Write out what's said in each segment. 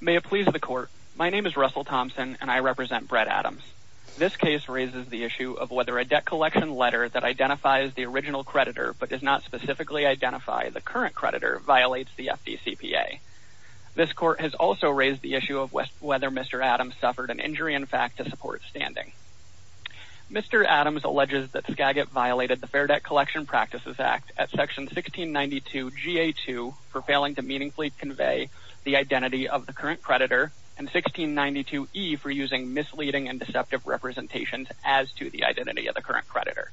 May it please the court. My name is Russell Thompson and I represent Brett Adams. This case raises the issue of whether a debt collection letter that identifies the original creditor but does not specifically identify the current creditor violates the FDCPA. This court has also raised the issue of whether Mr. Adams suffered an injury in fact to support standing. Mr. Adams alleges that Skagit violated the Fair Debt Collection Practices Act at section 1692 GA2 for failing to meaningfully convey the identity of the current creditor and 1692E for using misleading and deceptive representations as to the identity of the current creditor.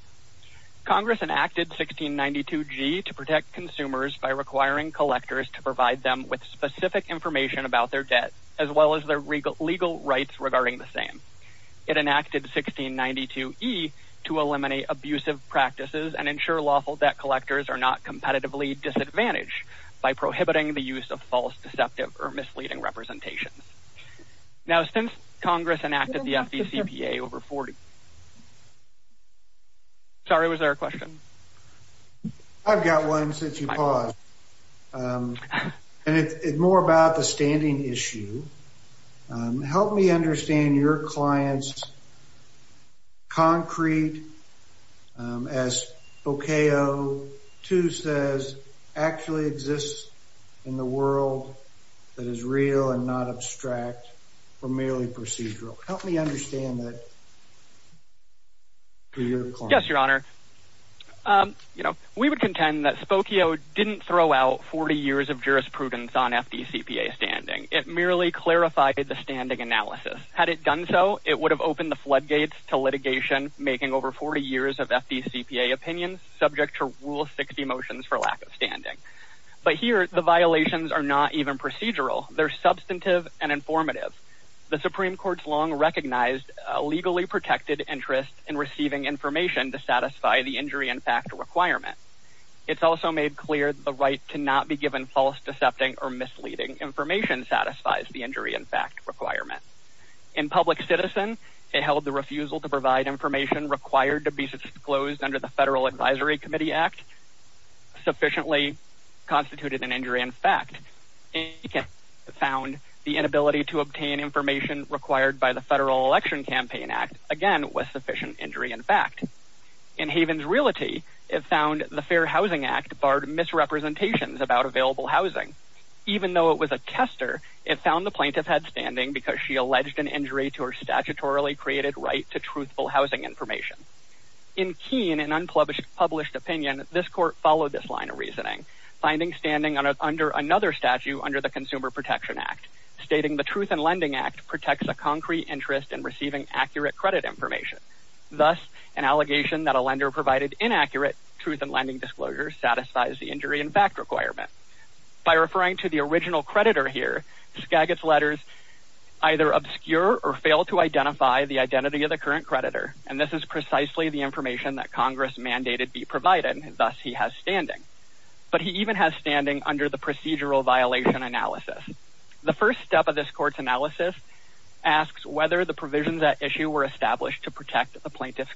Congress enacted 1692G to protect consumers by requiring collectors to provide them with specific information about their debt as well as their legal rights regarding the same. It enacted 1692E to eliminate abusive practices and ensure lawful debt collectors are not competitively disadvantaged by prohibiting the use of false deceptive or misleading representations. Now since Congress enacted the FDCPA over 40. Sorry was there a question? I've got one since you paused and it's more about the standing issue. Help me understand your client's concrete as Spokio 2 says actually exists in the world that is real and not abstract or merely procedural. Help me understand that. Yes your honor. You know we would contend that Spokio didn't throw out 40 years of jurisprudence on FDCPA standing. It merely clarified the standing analysis. Had it done so it would have opened the floodgates to litigation making over 40 years of FDCPA opinions subject to rule 60 motions for lack of standing. But here the violations are not even procedural. They're substantive and informative. The supreme court's long recognized a legally protected interest in receiving information to satisfy the injury in fact requirement. It's also made clear the right to not be given false deceptive or misleading information satisfies the injury in fact requirement. In public citizen it held the refusal to provide information required to be disclosed under the federal advisory committee act sufficiently constituted an injury in fact. It found the inability to obtain information required by the federal election campaign act again was sufficient injury in fact. In Havens Realty it found the fair housing act barred misrepresentations about available housing. Even though it was a tester it found the plaintiff had standing because she alleged an injury to her statutorily created right to truthful housing information. In keen and unpublished published opinion this court followed this line of reasoning finding standing under another statute under the consumer protection act stating the truth and lending act protects a concrete interest in receiving accurate credit information. Thus an allegation that a lender provided inaccurate truth and lending disclosures satisfies the injury in fact requirement. By referring to the original creditor here Skagit's letters either obscure or fail to identify the identity of the current creditor and this is precisely the information that congress mandated be provided thus he has standing. But he even has standing under the procedural violation analysis. The first step of this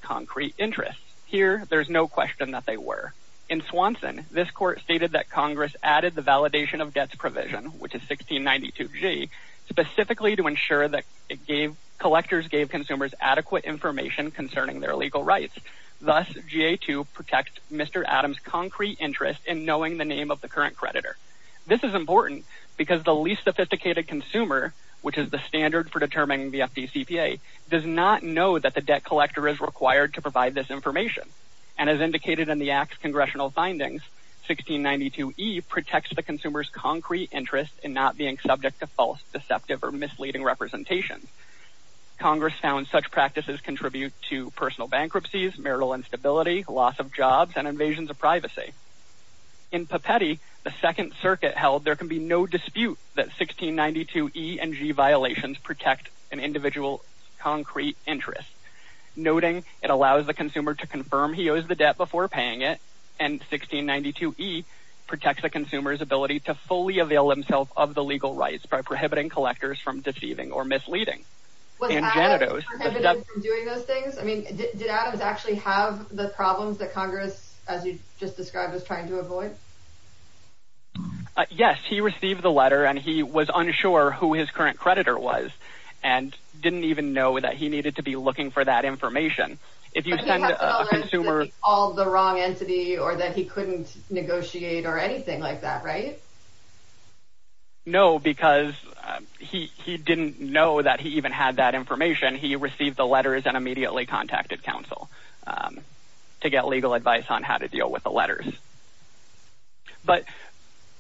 concrete interest here there's no question that they were. In Swanson this court stated that congress added the validation of debts provision which is 1692g specifically to ensure that it gave collectors gave consumers adequate information concerning their legal rights. Thus GA2 protects Mr. Adams concrete interest in knowing the name of the current creditor. This is important because the least sophisticated consumer which is the standard for determining the FDCPA does not know that the debt collector is required to provide this information and as indicated in the act's congressional findings 1692e protects the consumer's concrete interest in not being subject to false deceptive or misleading representations. Congress found such practices contribute to personal bankruptcies, marital instability, loss of jobs, and invasions of privacy. In Papetti the second circuit held there can be no dispute that 1692e and g violations protect an individual concrete interest. Noting it allows the consumer to confirm he owes the debt before paying it and 1692e protects the consumer's ability to fully avail himself of the legal rights by prohibiting collectors from deceiving or misleading. Was Adams prohibited from doing those things? I mean did Adams actually have the problems that congress as you just described was trying to avoid? Yes he received the letter and he was unsure who his current creditor was and didn't even know that he needed to be looking for that information. If you send a consumer all the wrong entity or that he couldn't negotiate or anything like that right? No because he he didn't know that he even had that information he received the letters and immediately contacted counsel to get legal advice on how to but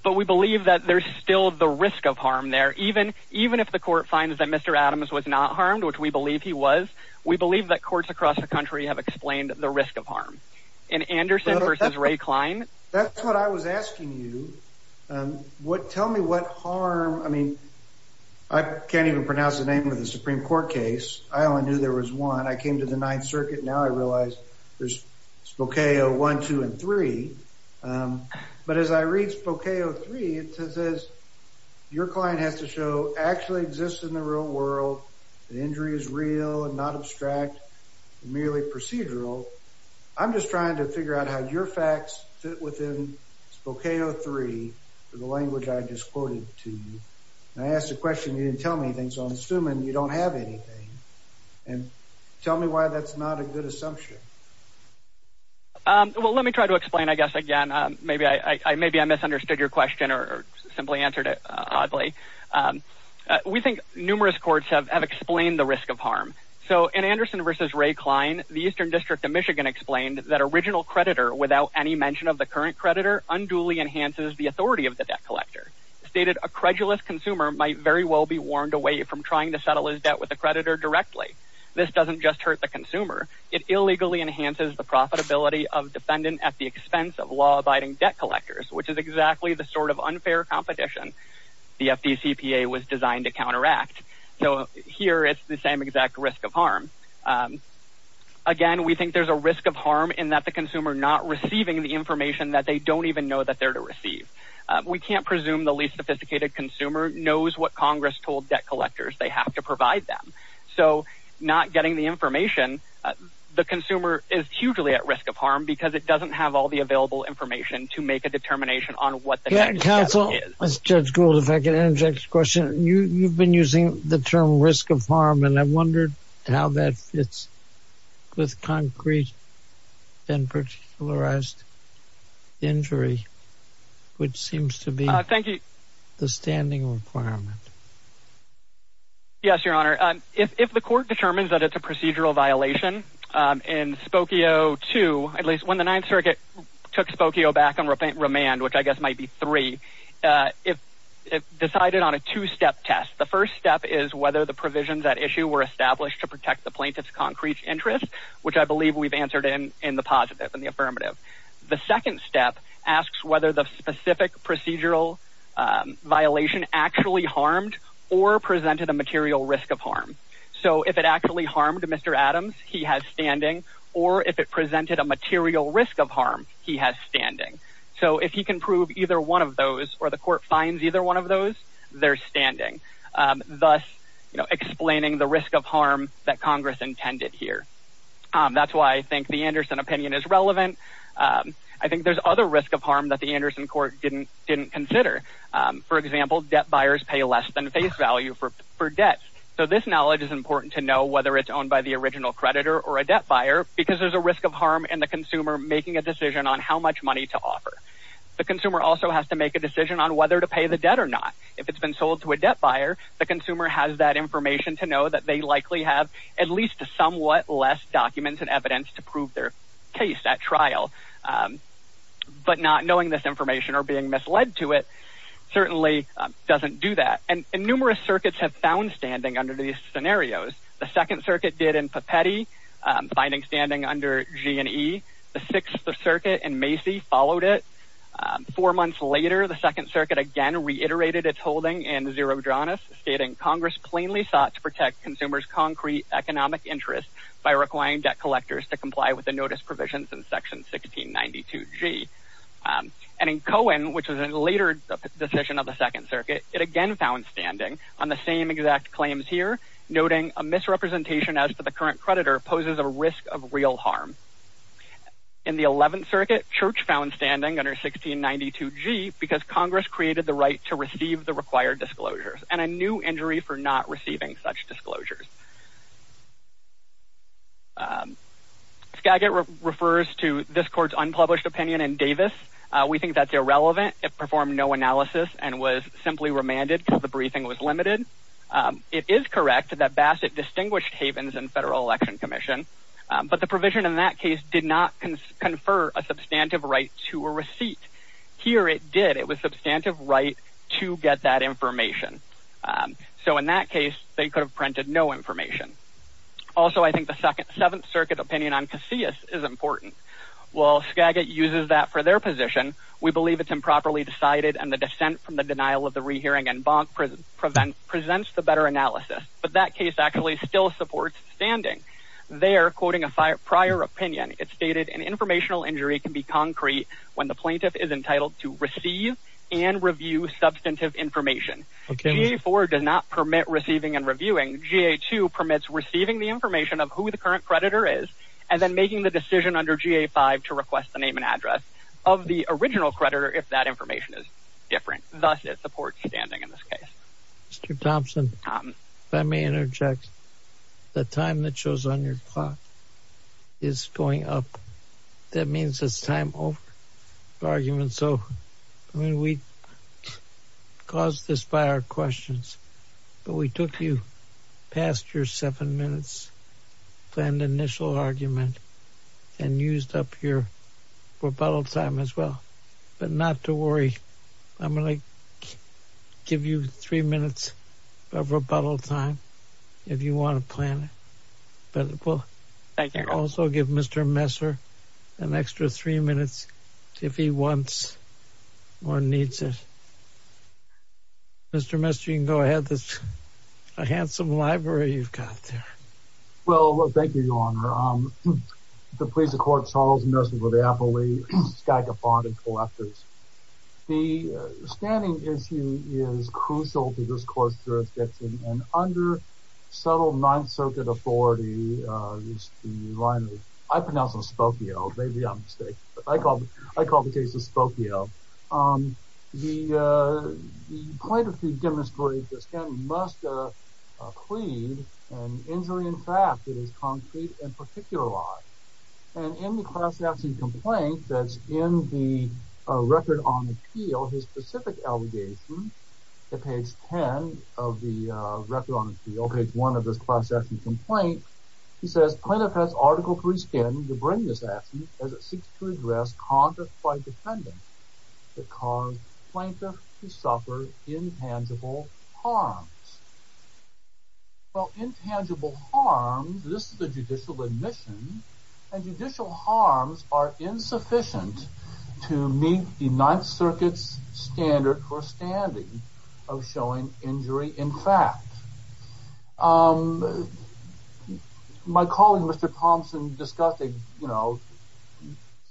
but we believe that there's still the risk of harm there even even if the court finds that Mr. Adams was not harmed which we believe he was we believe that courts across the country have explained the risk of harm in Anderson versus Ray Klein. That's what I was asking you um what tell me what harm I mean I can't even pronounce the name of the Supreme Court case I only knew there was I came to the ninth circuit now I realize there's Spokane one two and three um but as I read Spokane three it says your client has to show actually exists in the real world the injury is real and not abstract merely procedural I'm just trying to figure out how your facts fit within Spokane three for the language I just quoted to you I asked a question you didn't tell me anything so I'm have anything and tell me why that's not a good assumption um well let me try to explain I guess again um maybe I I maybe I misunderstood your question or simply answered it oddly um we think numerous courts have explained the risk of harm so in Anderson versus Ray Klein the eastern district of Michigan explained that original creditor without any mention of the current creditor unduly enhances the authority of the debt collector stated a credulous consumer might very well be warned away from trying to settle his debt with the creditor directly this doesn't just hurt the consumer it illegally enhances the profitability of defendant at the expense of law-abiding debt collectors which is exactly the sort of unfair competition the FDCPA was designed to counteract so here it's the same exact risk of harm again we think there's a risk of harm in that the consumer not receiving the information that they don't even know that they're to receive we can't presume the least sophisticated consumer knows what congress told debt collectors they have to provide them so not getting the information the consumer is hugely at risk of harm because it doesn't have all the available information to make a determination on what the council is let's judge gold if I can interject this question you you've been using the term risk of harm and I wondered how that fits with concrete then particularized injury which seems to be thank you the standing requirement yes your honor if if the court determines that it's a procedural violation in Spokio 2 at least when the ninth circuit took Spokio back on remand which I guess might be three if if decided on a two-step test the first step is whether the provisions at issue were established to protect the plaintiff's concrete interest which I believe we've answered in in the positive and the affirmative the second step asks whether the specific procedural violation actually harmed or presented a material risk of harm so if it actually harmed Mr. Adams he has standing or if it presented a material risk of harm he has standing so if he can prove either one of those or the court finds either one of those they're standing thus you know explaining the risk of harm that congress intended here that's why I think the Anderson opinion is relevant I think there's other risk of harm that the Anderson court didn't didn't consider for example debt buyers pay less than face value for for debt so this knowledge is important to know whether it's owned by the original creditor or a debt buyer because there's a risk of harm and the consumer making a decision on how much money to offer the consumer also has to make a decision on whether to pay the debt or not if it's been sold to a debt buyer the consumer has that information to know that they likely have at least somewhat less documents and evidence to prove their case at trial but not knowing this information or being misled to it certainly doesn't do that and numerous circuits have found standing under these scenarios the second circuit did in pepetti finding standing under g and e the sixth circuit and macy followed it four months later the second circuit again reiterated its holding and zero dranas stating congress plainly sought to protect consumers concrete economic interest by requiring debt collectors to comply with the notice provisions in section 1692 g and in cohen which is a later decision of the second circuit it again found standing on the same exact claims here noting a misrepresentation as for the current creditor poses a risk of real harm in the 11th circuit church found standing under 1692 g because congress created the right to receive the required disclosures and a new injury for not receiving such disclosures skagit refers to this court's unpublished opinion in davis we think that's irrelevant it performed no analysis and was simply remanded until the briefing was limited it is correct that bassett distinguished havens and federal election commission but the provision in that case did not confer a substantive right to a receipt here it did it was substantive right to get that information so in that case they could have printed no information also i think the second seventh circuit opinion on casillas is important while skagit uses that for their position we believe it's improperly decided and the descent from the denial of the rehearing and bonk prevent presents the better analysis but that case actually still supports standing they are quoting a prior opinion it stated an informational injury can be concrete when the plaintiff is entitled to receive and review substantive information ga4 does not permit receiving and reviewing ga2 permits receiving the information of who the current creditor is and then making the decision under ga5 to request the name and address of the original creditor if that information is different thus it supports standing in this case mr thompson if i may interject the time that shows on your clock is going up that means it's time over argument so i mean we caused this by our questions but we took you past your seven minutes planned initial argument and used up your rebuttal time as well but not to worry i'm going to give you three minutes of rebuttal time if you want to plan it but it will also give mr messer an extra three minutes if he wants or needs it mr mister you can go ahead that's a handsome library you've got there well thank you your is crucial to this court's jurisdiction and under subtle non-circuit authority is the line i pronounce on spokio maybe i'm mistaken but i call i call the case of spokio um the uh the plaintiff who demonstrated this can must uh clean and injury in fact it is concrete and particularized and in the class action complaint that's in the record on appeal his specific allegation at page 10 of the uh record on appeal page one of this class action complaint he says plaintiff has article three skin to bring this action as it seeks to address conflict by defendant that caused plaintiff to suffer intangible harms well intangible harm this is the judicial admission and judicial harms are insufficient to meet the ninth circuit's standard for standing of showing injury in fact um my colleague mr thompson discussed a you know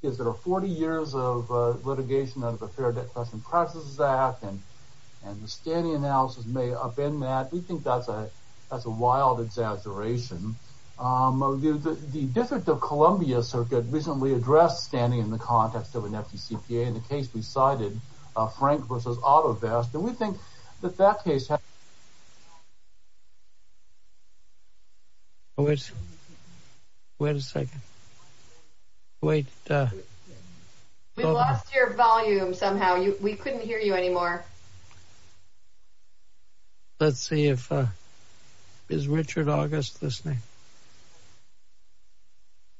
is there are 40 years of uh litigation under the fair debt question practices act and and the standing analysis may upend that we think that's a that's a wild exaggeration um the district of columbia circuit recently addressed standing in context of an fdcpa in the case we cited uh frank versus auto vest and we think that that case which wait a second wait uh we lost your volume somehow you we couldn't hear you anymore let's see if uh is richard august listening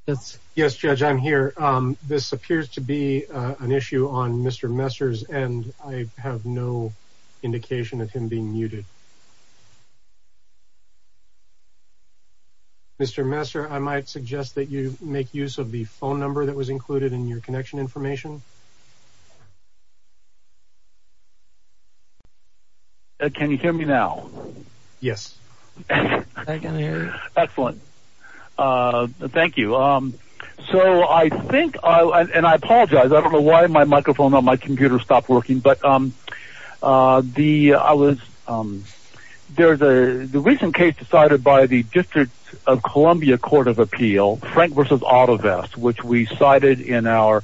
yes yes judge i'm here um this appears to be uh an issue on mr messer's and i have no indication of him being muted mr messer i might suggest that you make use of the phone number that was included in your connection information uh can you hear me now yes excellent uh thank you um so i think i and i apologize i don't know why my microphone on my computer stopped working but um uh the i was um there's a the recent case decided by the district of columbia court of appeal frank versus auto vest which we cited in a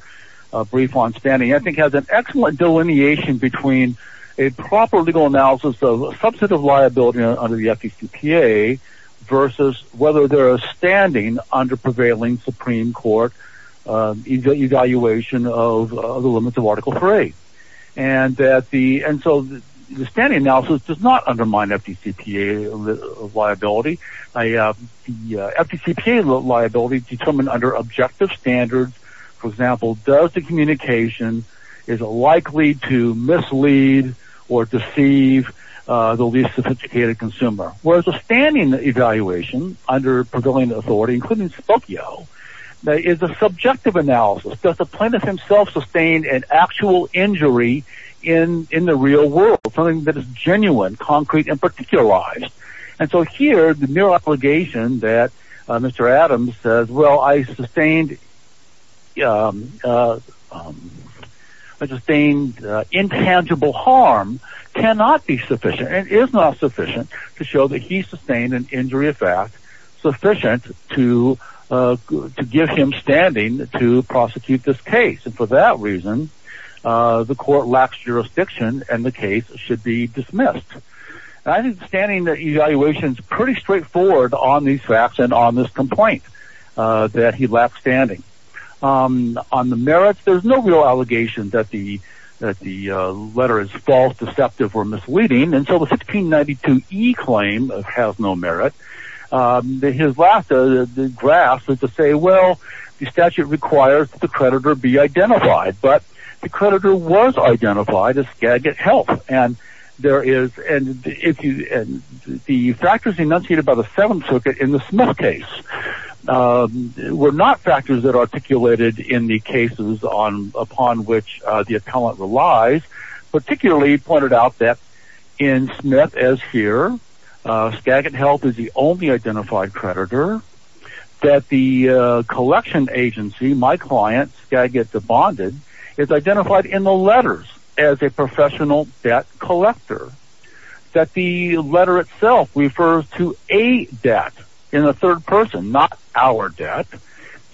brief on standing i think has an excellent delineation between a proper legal analysis of a subset of liability under the fdcpa versus whether they're standing under prevailing supreme court uh evaluation of the limits of article three and that the and so the standing analysis does not undermine fdcpa liability i uh the fdcpa liability determined under objective standards for example does the communication is likely to mislead or deceive uh the least sophisticated consumer whereas the standing evaluation under prevailing authority including spokio is a subjective analysis does the plaintiff himself sustain an actual injury in in the real world something that is genuine concrete and particularized and so here the mere obligation that uh mr adams says well i sustained um uh sustained intangible harm cannot be sufficient and is not sufficient to show that he sustained an injury effect sufficient to uh to give him standing to prosecute this case and for that reason uh the court lacks jurisdiction and the facts and on this complaint uh that he lacks standing um on the merits there's no real allegation that the that the uh letter is false deceptive or misleading and so the 1692e claim has no merit um his last uh the graph is to say well the statute requires the creditor be identified but the creditor was identified as skagit health and there is and if you and the factors enunciated by the seventh circuit in the smith case were not factors that articulated in the cases on upon which uh the appellant relies particularly pointed out that in smith as here uh skagit health is the only identified creditor that the uh collection agency my client skagit the bonded is identified in the letters as a to a debt in a third person not our debt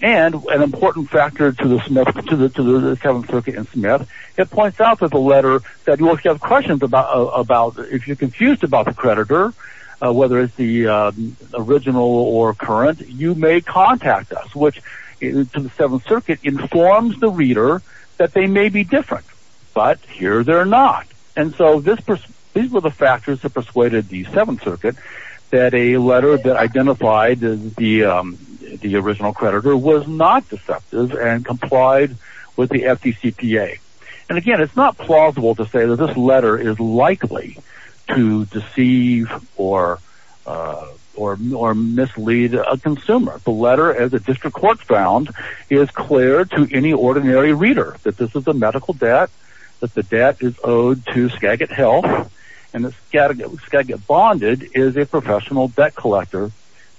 and an important factor to the smith to the to the seventh circuit in smith it points out that the letter that you have questions about about if you're confused about the creditor uh whether it's the uh original or current you may contact us which is to the seventh circuit informs the reader that they may be different but here they're not and so this these were the factors that persuaded the seventh circuit that a letter that identified the um the original creditor was not deceptive and complied with the fdcpa and again it's not plausible to say that this letter is likely to deceive or uh or mislead a consumer the letter as a district court found is clear to any ordinary reader that this is a skagit health and the skagit bonded is a professional debt collector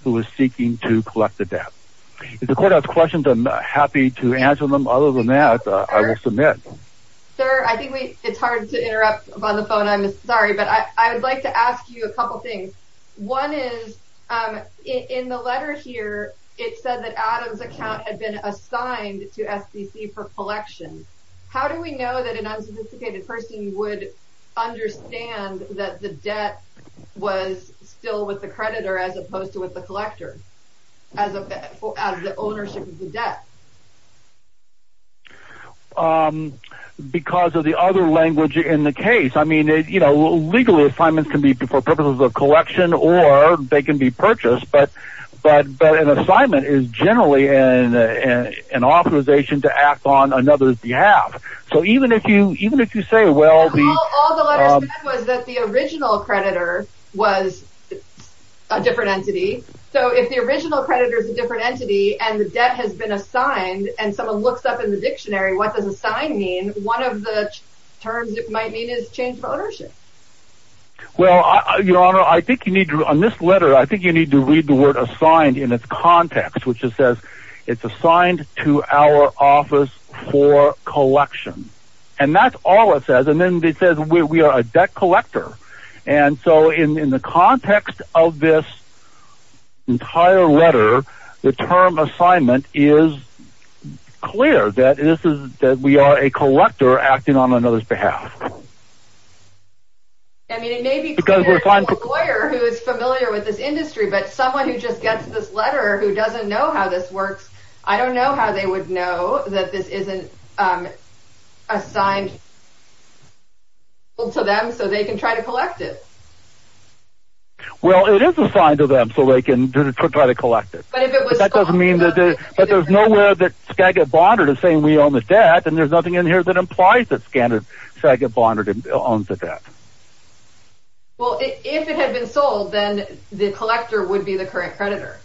who is seeking to collect the debt if the court has questions i'm happy to answer them other than that i will submit sir i think we it's hard to interrupt on the phone i'm sorry but i i would like to ask you a couple things one is um in the letter here it said that adam's account had been assigned to sbc for collection how do we know that an unsophisticated person would understand that the debt was still with the creditor as opposed to with the collector as a as the ownership of the debt um because of the other language in the case i mean it you know legally assignments can be for purposes of collection or they can be purchased but but but an assignment is generally in an authorization to act on another's behalf so even if you even if you say well all the letters was that the original creditor was a different entity so if the original creditor is a different entity and the debt has been assigned and someone looks up in the dictionary what does assigned mean one of the terms it might mean is change of ownership well your honor i think you need to on this letter i think you need to read the word assigned in its context which it says it's assigned to our office for collection and that's all it says and then it says we are a debt collector and so in in the context of this entire letter the term assignment is clear that this is that we are a collector acting on another's behalf i mean it may be because we're a lawyer who is i don't know how they would know that this isn't um assigned to them so they can try to collect it well it is assigned to them so they can try to collect it but if that doesn't mean that but there's no way that skagit bondard is saying we own the debt and there's nothing in here that implies that skagit bondard owns the debt well if it had been sold then the collector would be the current creditor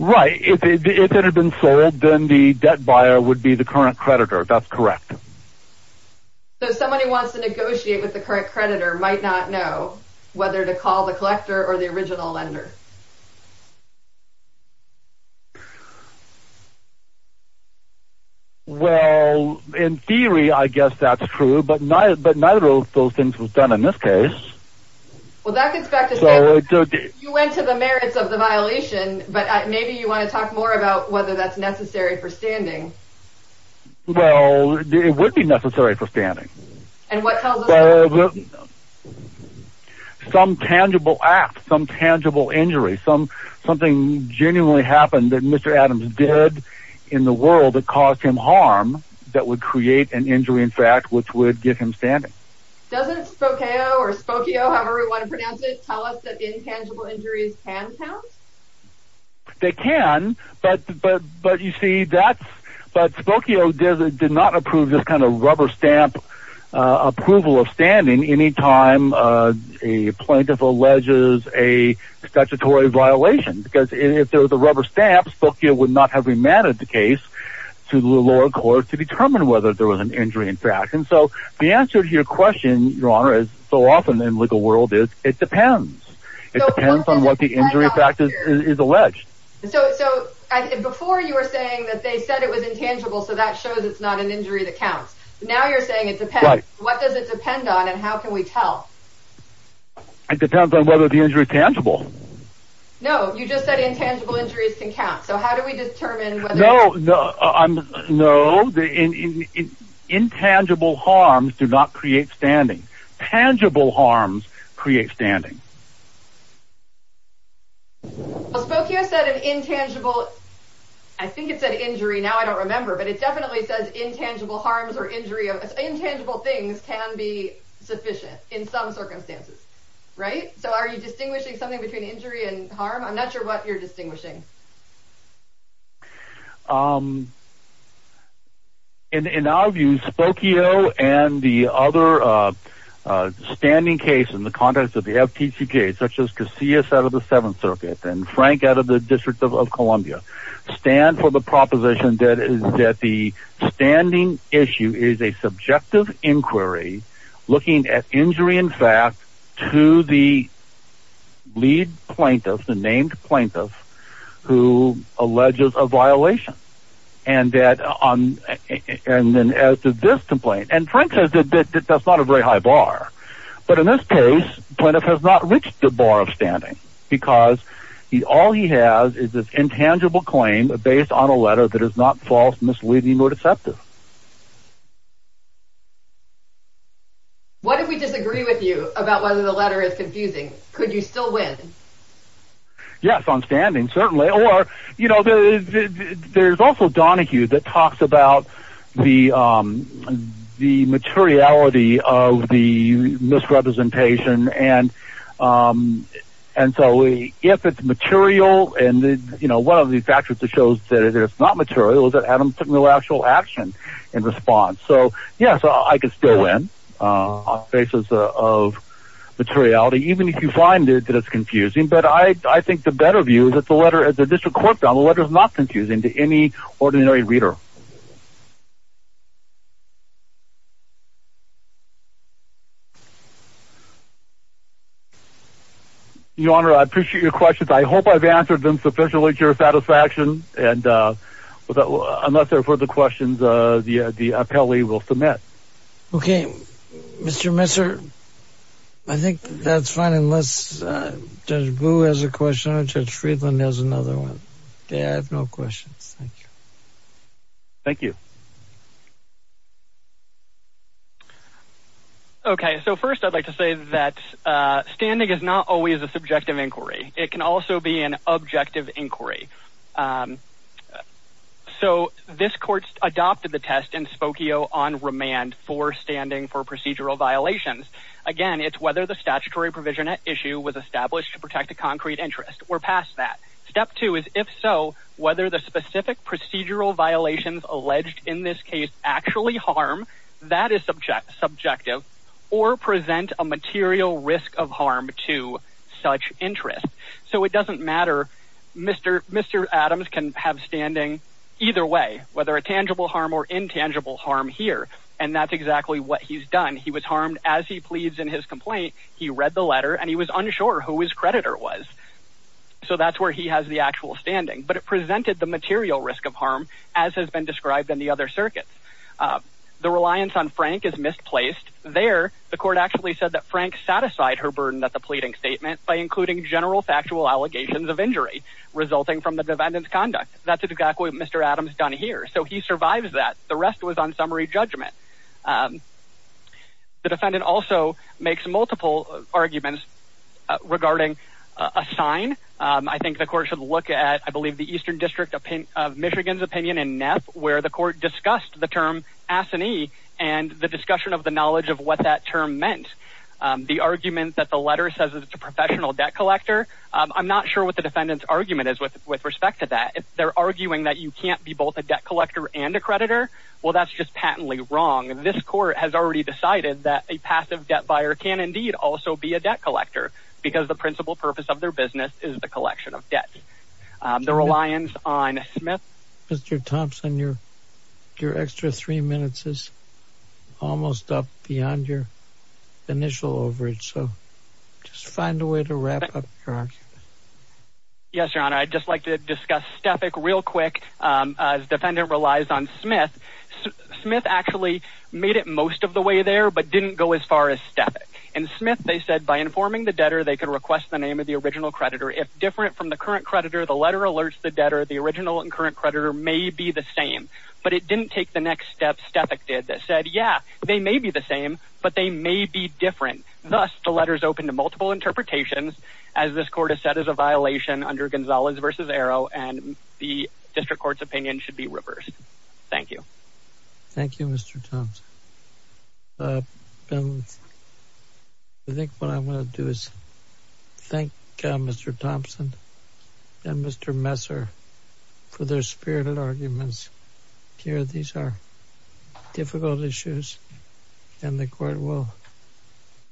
right if it had been sold then the debt buyer would be the current creditor that's correct so somebody wants to negotiate with the current creditor might not know whether to call the collector or the original lender well in theory i guess that's true but neither but neither of those things was done in this case well that gets back to you went to the merits of the violation but maybe you want to talk more about whether that's necessary for standing well it would be necessary for standing and what something genuinely happened that mr adams did in the world that caused him harm that would create an injury in fact which would get him standing doesn't spokane or spokane however we want to pronounce it tell us that intangible injuries can count they can but but but you see that's but spokane did not approve this kind of rubber stamp uh approval of standing anytime uh a violation because if there was a rubber stamp spokane would not have remanded the case to the lower court to determine whether there was an injury in fact and so the answer to your question your honor is so often in legal world is it depends it depends on what the injury factor is alleged so so before you were saying that they said it was intangible so that shows it's not an injury that counts now you're saying it depends what does it depend on and how can we tell it depends on whether the injury tangible no you just said intangible injuries can count so how do we determine whether no no i'm no the in intangible harms do not create standing tangible harms create standing spokane said an intangible i think it said injury now i don't remember but it definitely says intangible harms or injury of intangible things can be sufficient in some circumstances right so are you distinguishing something between injury and harm i'm not sure what you're distinguishing um in in our view spokio and the other uh uh standing case in the context of the ftc case such as casillas out of the seventh circuit and frank out of the district of columbia stand for the proposition that is that the standing issue is a subjective inquiry looking at injury in fact to the lead plaintiff the named plaintiff who alleges a violation and that on and then as to this complaint and frank says that that's not a very high bar but in this case plaintiff has not reached the bar of standing because he all he has is this intangible claim based on a letter that is not false misleading or deceptive what if we disagree with you about whether the letter is confusing could you still win yes on standing certainly or you know there's also donahue that talks about the um the materiality of the misrepresentation and um and so we if it's material and the you know one of the factors that shows that it's not material is that adam took no actual action in response so yeah so i could still win uh on basis of materiality even if you find it that it's confusing but i i think the better view is that the letter at the district court down the letter is not confusing to any ordinary reader your honor i appreciate your questions i hope i've answered them sufficiently to your satisfaction and uh but i'm not there for the questions uh the uh the appellee will submit okay mr messer i think that's fine unless uh judge blue has a question or judge friedland has another one okay i have no questions thank you thank you okay so first i'd like to say that uh standing is not always a subjective inquiry it can also be an inquiry um so this court adopted the test in spokio on remand for standing for procedural violations again it's whether the statutory provision at issue was established to protect a concrete interest we're past that step two is if so whether the specific procedural violations alleged in this case actually harm that is subject subjective or present a material risk of harm to such interest so it doesn't matter mr mr adams can have standing either way whether a tangible harm or intangible harm here and that's exactly what he's done he was harmed as he pleads in his complaint he read the letter and he was unsure who his creditor was so that's where he has the actual standing but it presented the material risk of harm as has been described in the other circuits the reliance on frank is misplaced there the court actually said that frank satisfied her statement by including general factual allegations of injury resulting from the defendant's conduct that's exactly what mr adams done here so he survives that the rest was on summary judgment the defendant also makes multiple arguments regarding a sign i think the court should look at i believe the eastern district opinion of michigan's opinion in nef where the court discussed the term asinine and the discussion of the knowledge of what that term meant the argument that the letter says it's a professional debt collector i'm not sure what the defendant's argument is with with respect to that if they're arguing that you can't be both a debt collector and a creditor well that's just patently wrong this court has already decided that a passive debt buyer can indeed also be a debt collector because the principal purpose of their business is the collection of debt the reliance on smith mr thompson your your extra three minutes is almost up beyond your initial overage so just find a way to wrap up your argument yes your honor i'd just like to discuss stefik real quick um as defendant relies on smith smith actually made it most of the way there but didn't go as far as stefik and smith they said by informing the debtor they could request the name of the original creditor if different from the current creditor the letter alerts the debtor the original and current creditor may be the same but it didn't take the next step stefik did that said yeah they may be the same but they may be different thus the letters open to multiple interpretations as this court has said is a violation under gonzalez versus arrow and the district court's opinion should be reversed thank you thank you mr thompson uh i think what i want to do is thank mr thompson and mr messer for their spirited arguments here these are difficult issues and the court will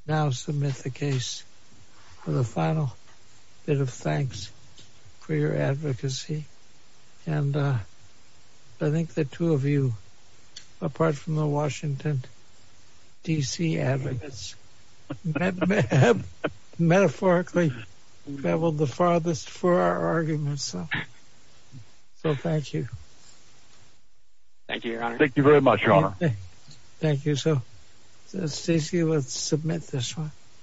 now submit the case for the final bit of thanks for your advocacy and uh i think the two of you apart from the washington dc evidence metaphorically traveled the farthest for our arguments so thank you thank you your honor thank you very much your honor thank you so let's submit this one